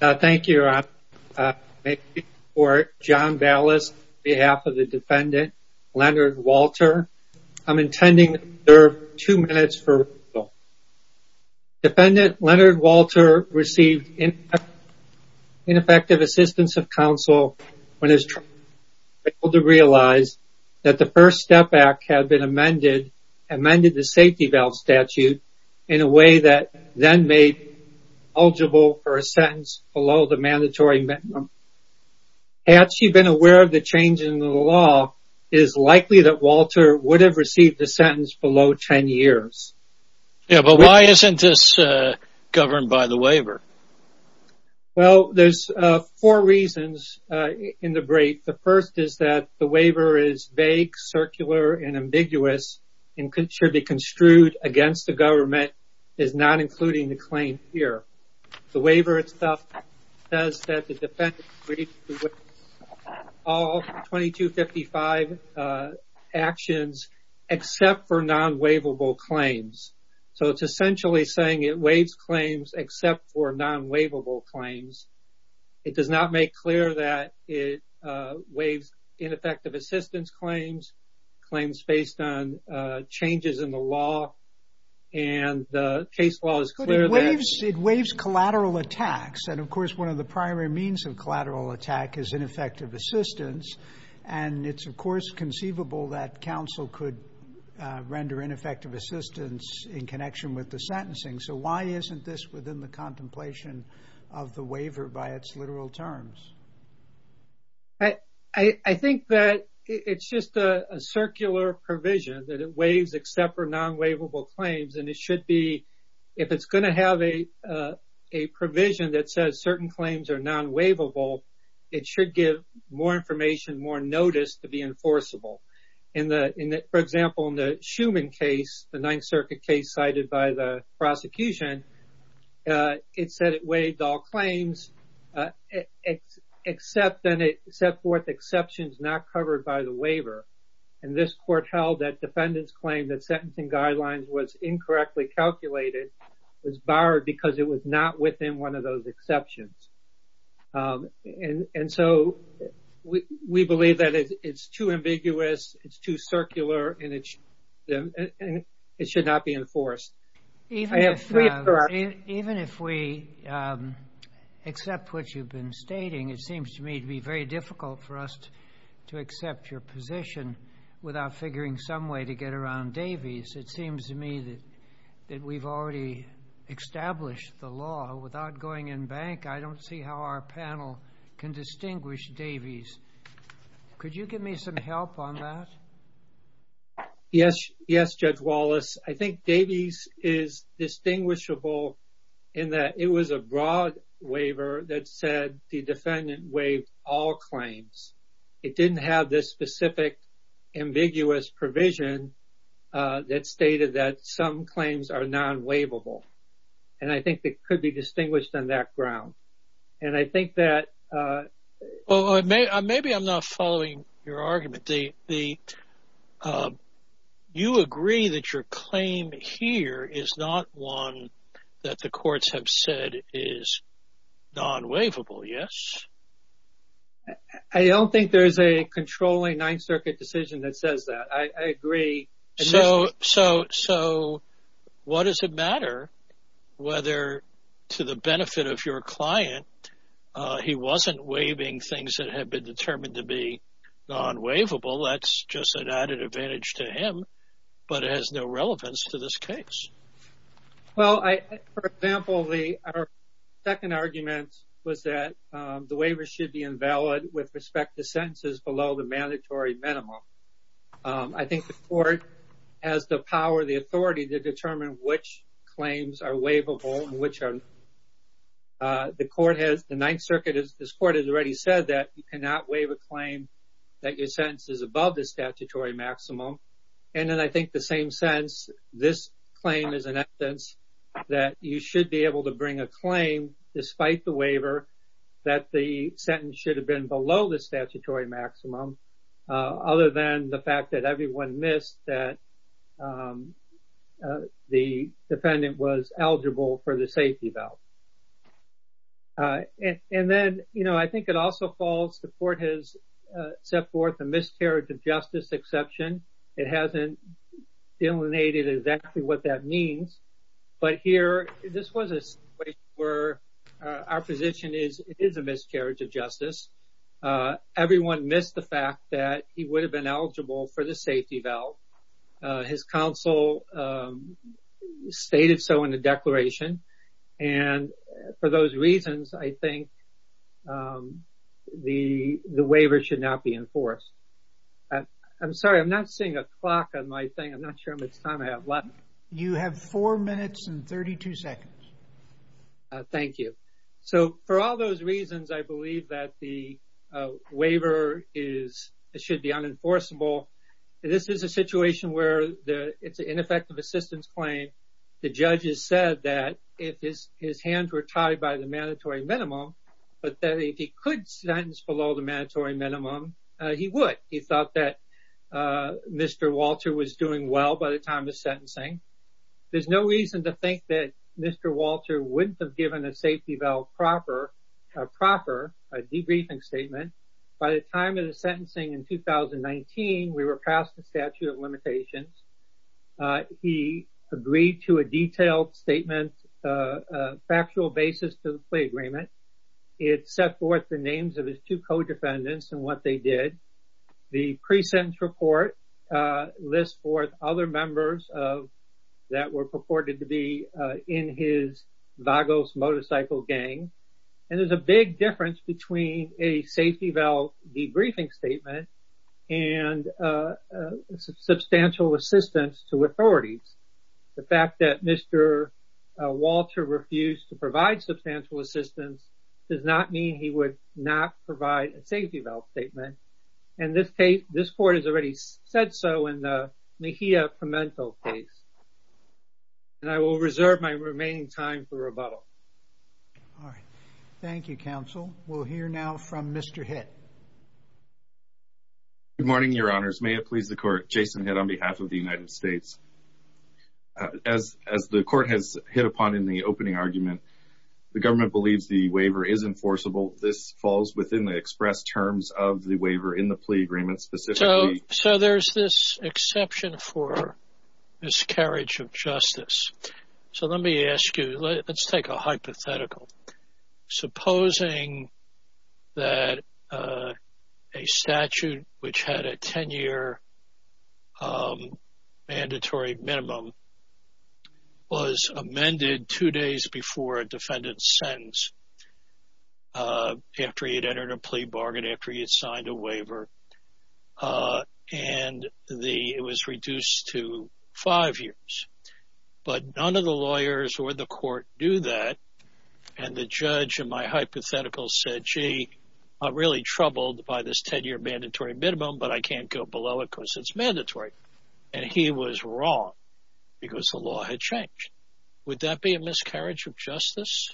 Thank you for John Ballas behalf of the defendant Leonard Walter. I'm intending to serve two minutes. Defendant Leonard Walter received ineffective assistance of counsel when he was able to realize that the first step back had been amended, amended the safety valve statute in a way that then made eligible for a sentence below the mandatory minimum. Had she been aware of the change in the law, it is likely that Walter would have received a sentence below 10 years. Yeah, but why isn't this governed by the waiver? Well, there's four reasons in the break. The first is that the waiver is vague, circular, and ambiguous and should be construed against the government, is not including the claim here. The waiver itself says that the defendant agreed to all 2255 actions except for non-waivable claims. So it's essentially saying it waives claims except for non-waivable claims. It does not make clear that it waives ineffective assistance claims, claims based on changes in the law, and the case law is clear. It waives collateral attacks and of course one of the primary means of collateral attack is ineffective assistance and it's of course conceivable that counsel could render ineffective assistance in connection with the sentencing. So why isn't this within the contemplation of the waiver by its It's just a circular provision that it waives except for non-waivable claims and it should be, if it's going to have a provision that says certain claims are non-waivable, it should give more information, more notice to be enforceable. In the, for example, in the Schuman case, the Ninth Circuit case cited by the prosecution, it said it waived all claims except then it set forth exceptions not covered by the waiver. And this court held that defendants claimed that sentencing guidelines was incorrectly calculated, was barred because it was not within one of those exceptions. And so we believe that it's too ambiguous, it's too circular, and it should not be enforced. Even if we accept what you've been stating, it seems to me to be very difficult for us to accept your position without figuring some way to get around Davies. It seems to me that we've already established the law. Without going in bank, I don't see how our panel can distinguish Davies. Could you give me some help on that? Yes, yes, Judge Wallace. I think Davies is distinguishable in that it was a broad waiver that said the defendant waived all claims. It didn't have this specific ambiguous provision that stated that some claims are non-waivable. And I think it could be distinguished on that ground. And I think that... Well, maybe I'm not following your argument. You agree that your claim here is not one that the courts have said is non-waivable, yes? I don't think there's a controlling Ninth Circuit decision that says that. I agree. So what does it matter whether, to the benefit of your client, he wasn't waiving things that have been determined to be non-waivable? That's just an added advantage to him, but it has no relevance to this case. Well, for example, our second argument was that the waiver should be invalid with respect to sentences below the mandatory minimum. I think the court has the power, the authority to determine which claims are waivable and which are not. The Ninth Circuit has already said that you cannot waive a claim that your sentence is above the statutory maximum. And then I think the same sense, this claim is an evidence that you should be able to bring a claim, despite the waiver, that the sentence should have been below the statutory maximum, other than the fact that everyone missed that the defendant was eligible for the safety belt. And then, you know, I think it also falls, the court has set forth a miscarriage of justice exception. It hasn't delineated exactly what that means. But here, this was a situation where our position is, it is a miscarriage of justice. Everyone missed the fact that he would have been eligible for the safety belt. His counsel stated so in the declaration. And for those reasons, I think the waiver should not be enforced. I'm sorry, I'm not seeing a clock on my thing. I'm not sure how much time I have left. You have four minutes and 32 seconds. Thank you. So for all those reasons, I believe that the waiver is, should be enforceable. This is a situation where it's an ineffective assistance claim. The judge has said that if his hands were tied by the mandatory minimum, but that if he could sentence below the mandatory minimum, he would. He thought that Mr. Walter was doing well by the time of sentencing. There's no reason to think that Mr. Walter wouldn't have given a safety belt proper, a proper, a debriefing statement by the time of the sentencing in 2019, we were passed the statute of limitations. He agreed to a detailed statement, a factual basis to the play agreement. It set forth the names of his two co-defendants and what they did. The pre-sentence report lists forth other members that were purported to be in his Vagos motorcycle gang. And there's a big difference between a safety valve debriefing statement and a substantial assistance to authorities. The fact that Mr. Walter refused to provide substantial assistance does not mean he would not provide a safety valve statement. And this case, this court has already said so in the Mejia Pimentel case, and I will reserve my remaining time for rebuttal. All right. Thank you, counsel. We'll hear now from Mr. Hitt. Good morning, your honors. May it please the court, Jason Hitt on behalf of the United States. As the court has hit upon in the opening argument, the government believes the waiver is enforceable. This falls within the express terms of the waiver in the plea agreement. So there's this exception for miscarriage of justice. So let me ask you, let's take a hypothetical. Supposing that a statute which had a 10-year mandatory minimum was amended two days before a defendant's sentence, after he had entered a plea bargain, after he had signed a waiver, and it was reduced to and the judge in my hypothetical said, gee, I'm really troubled by this 10-year mandatory minimum, but I can't go below it because it's mandatory. And he was wrong because the law had changed. Would that be a miscarriage of justice?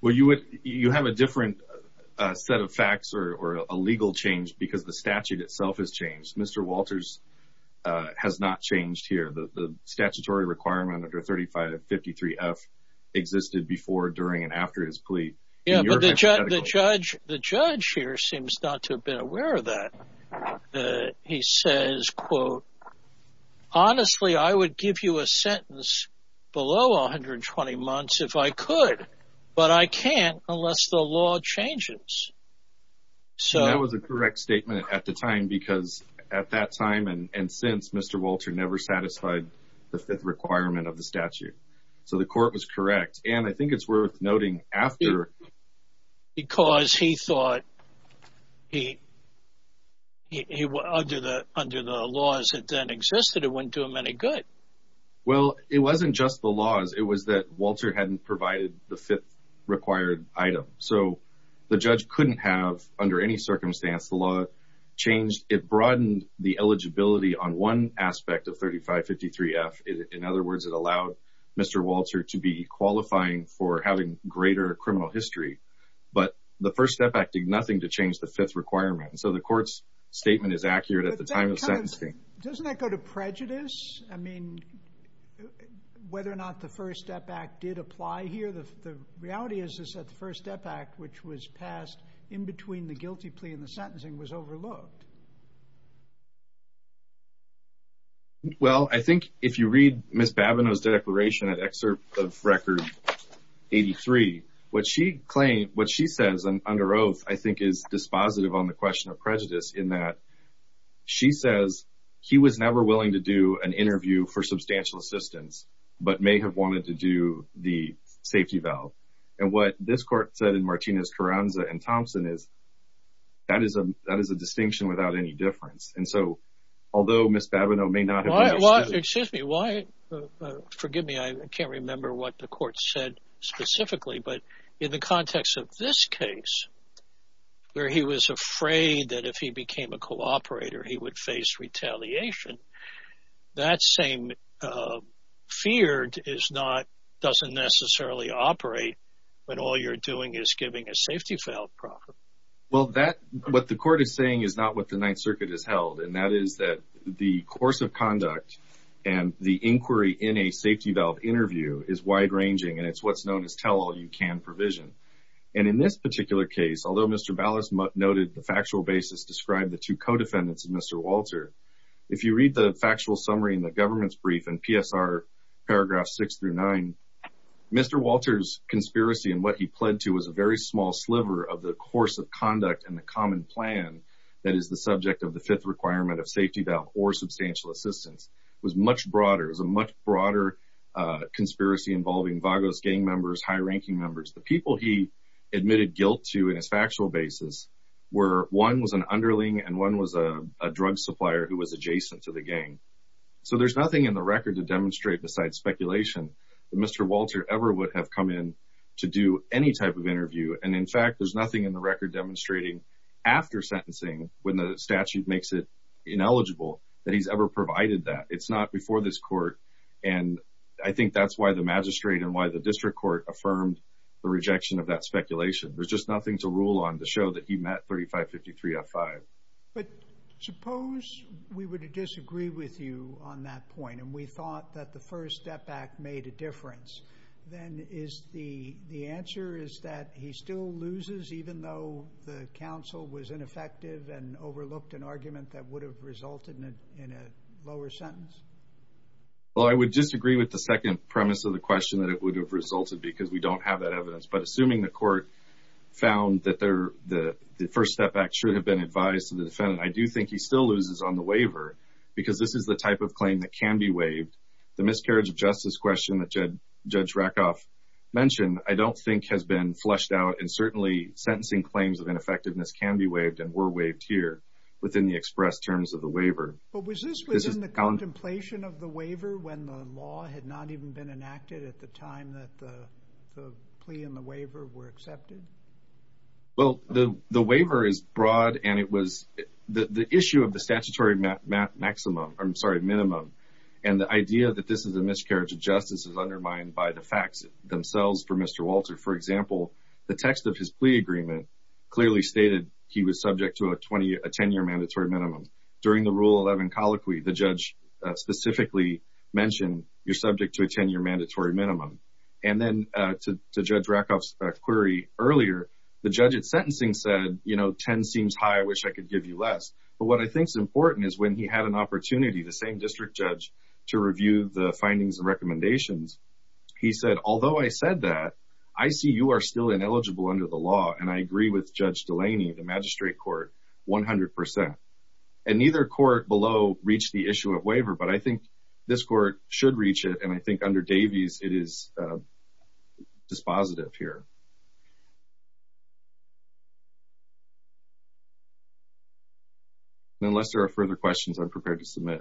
Well, you have a different set of facts or a legal change because the statute itself has existed before, during, and after his plea. The judge here seems not to have been aware of that. He says, quote, honestly, I would give you a sentence below 120 months if I could, but I can't unless the law changes. So that was a correct statement at the time because at that time and since Mr. Walter never satisfied the fifth requirement of the statute. So the court was correct. And I think it's worth noting after. Because he thought he, under the laws that then existed, it wouldn't do him any good. Well, it wasn't just the laws. It was that Walter hadn't provided the fifth required item. So the judge couldn't have, under any circumstance, the law changed. It broadened the eligibility on one that allowed Mr. Walter to be qualifying for having greater criminal history. But the First Step Act did nothing to change the fifth requirement. So the court's statement is accurate at the time of sentencing. Doesn't that go to prejudice? I mean, whether or not the First Step Act did apply here? The reality is that the First Step Act, which was passed in between the guilty plea and the sentencing, was overlooked. Well, I think if you read Ms. Bavino's declaration, an excerpt of Record 83, what she claims, what she says under oath, I think is dispositive on the question of prejudice in that she says he was never willing to do an interview for substantial assistance, but may have wanted to do the safety valve. And what this court said in Martinez, Carranza, and Thompson is that is a distinction without any difference. And so, although Ms. Bavino may not have understood. Well, excuse me. Forgive me. I can't remember what the court said specifically. But in the context of this case, where he was afraid that if he became a co-operator, he would face retaliation, that same feared doesn't necessarily operate when all you're doing is giving a safety valve property. Well, that what the court is saying is not what the Ninth Circuit has held. And that is that the course of conduct and the inquiry in a safety valve interview is wide ranging. And it's what's known as tell all you can provision. And in this particular case, although Mr. Ballas noted the factual basis described the two co-defendants of Mr. Walter, if you read the factual summary in the government's brief and PSR paragraph six through nine, Mr. Walter's conspiracy and what he pled to was a very small sliver of the course of conduct and the common plan that is the subject of the fifth requirement of safety valve or substantial assistance was much broader as a much broader conspiracy involving Vagos gang members, high ranking members, the people he admitted guilt to in his factual basis, where one was an underling and one was a drug supplier who was adjacent to the gang. So there's nothing in the record to demonstrate besides speculation that Mr. Walter ever would have come in to do any type of interview. And in fact, there's nothing in the record demonstrating after sentencing when the statute makes it ineligible that he's ever provided that it's not before this court. And I think that's why the magistrate and why the district court affirmed the rejection of that speculation. There's just disagree with you on that point. And we thought that the first step back made a difference. Then is the the answer is that he still loses even though the council was ineffective and overlooked an argument that would have resulted in a lower sentence. Well, I would disagree with the second premise of the question that it would have resulted because we don't have that evidence. But assuming the court found that they're the first step back should have been advised to I do think he still loses on the waiver, because this is the type of claim that can be waived. The miscarriage of justice question that Jed, Judge Rakoff mentioned, I don't think has been fleshed out. And certainly sentencing claims of ineffectiveness can be waived and were waived here within the express terms of the waiver. But was this was in the contemplation of the waiver when the law had not even been enacted at the time that the plea and the waiver were accepted? Well, the the waiver is broad, and it was the issue of the statutory maximum, I'm sorry, minimum. And the idea that this is a miscarriage of justice is undermined by the facts themselves for Mr. Walter. For example, the text of his plea agreement clearly stated he was subject to a 20 a 10 year mandatory minimum. During the rule 11 colloquy, the judge specifically mentioned you're subject to a 10 year mandatory minimum. And then to Judge Rakoff's query earlier, the judge at sentencing said, you know, 10 seems high, I wish I could give you less. But what I think is important is when he had an opportunity, the same district judge to review the findings and recommendations. He said, although I said that, I see you are still ineligible under the law. And I agree with Judge Delaney, the magistrate court 100%. And neither court below reach the issue waiver. But I think this court should reach it. And I think under Davies, it is dispositive here. Unless there are further questions, I'm prepared to submit.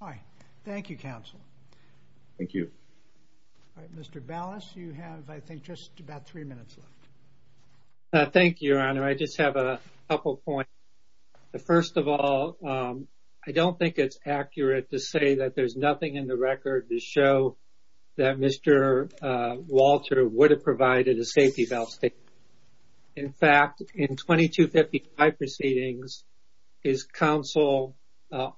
All right. Thank you, counsel. Thank you. Mr. Ballas, you have I think, just about three minutes left. Thank you, Your Honor, I just have a couple points. The first of all, I don't think it's accurate to say that there's nothing in the record to show that Mr. Walter would have provided a safety valve statement. In fact, in 2255 proceedings, his counsel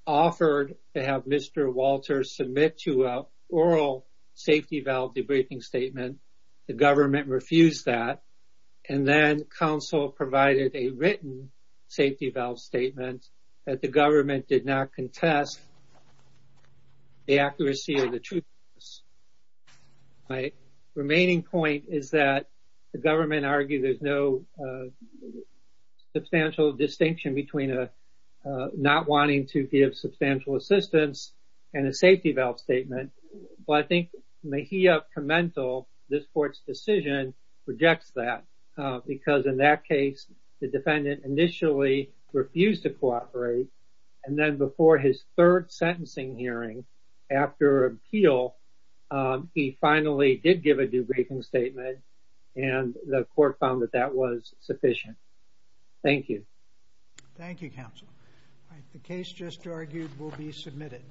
offered to have Mr. Walter submit to an oral safety valve debriefing statement. The government refused that. And then counsel provided a written safety valve statement that the government did not contest the accuracy of the truth. My remaining point is that the government argued there's no substantial distinction between not wanting to give substantial assistance and a safety valve statement. But I think commental this court's decision rejects that because in that case, the defendant initially refused to cooperate. And then before his third sentencing hearing after appeal, he finally did give a debriefing statement. And the court found that that was sufficient. Thank you. Thank you, counsel. The case just argued will be submitted.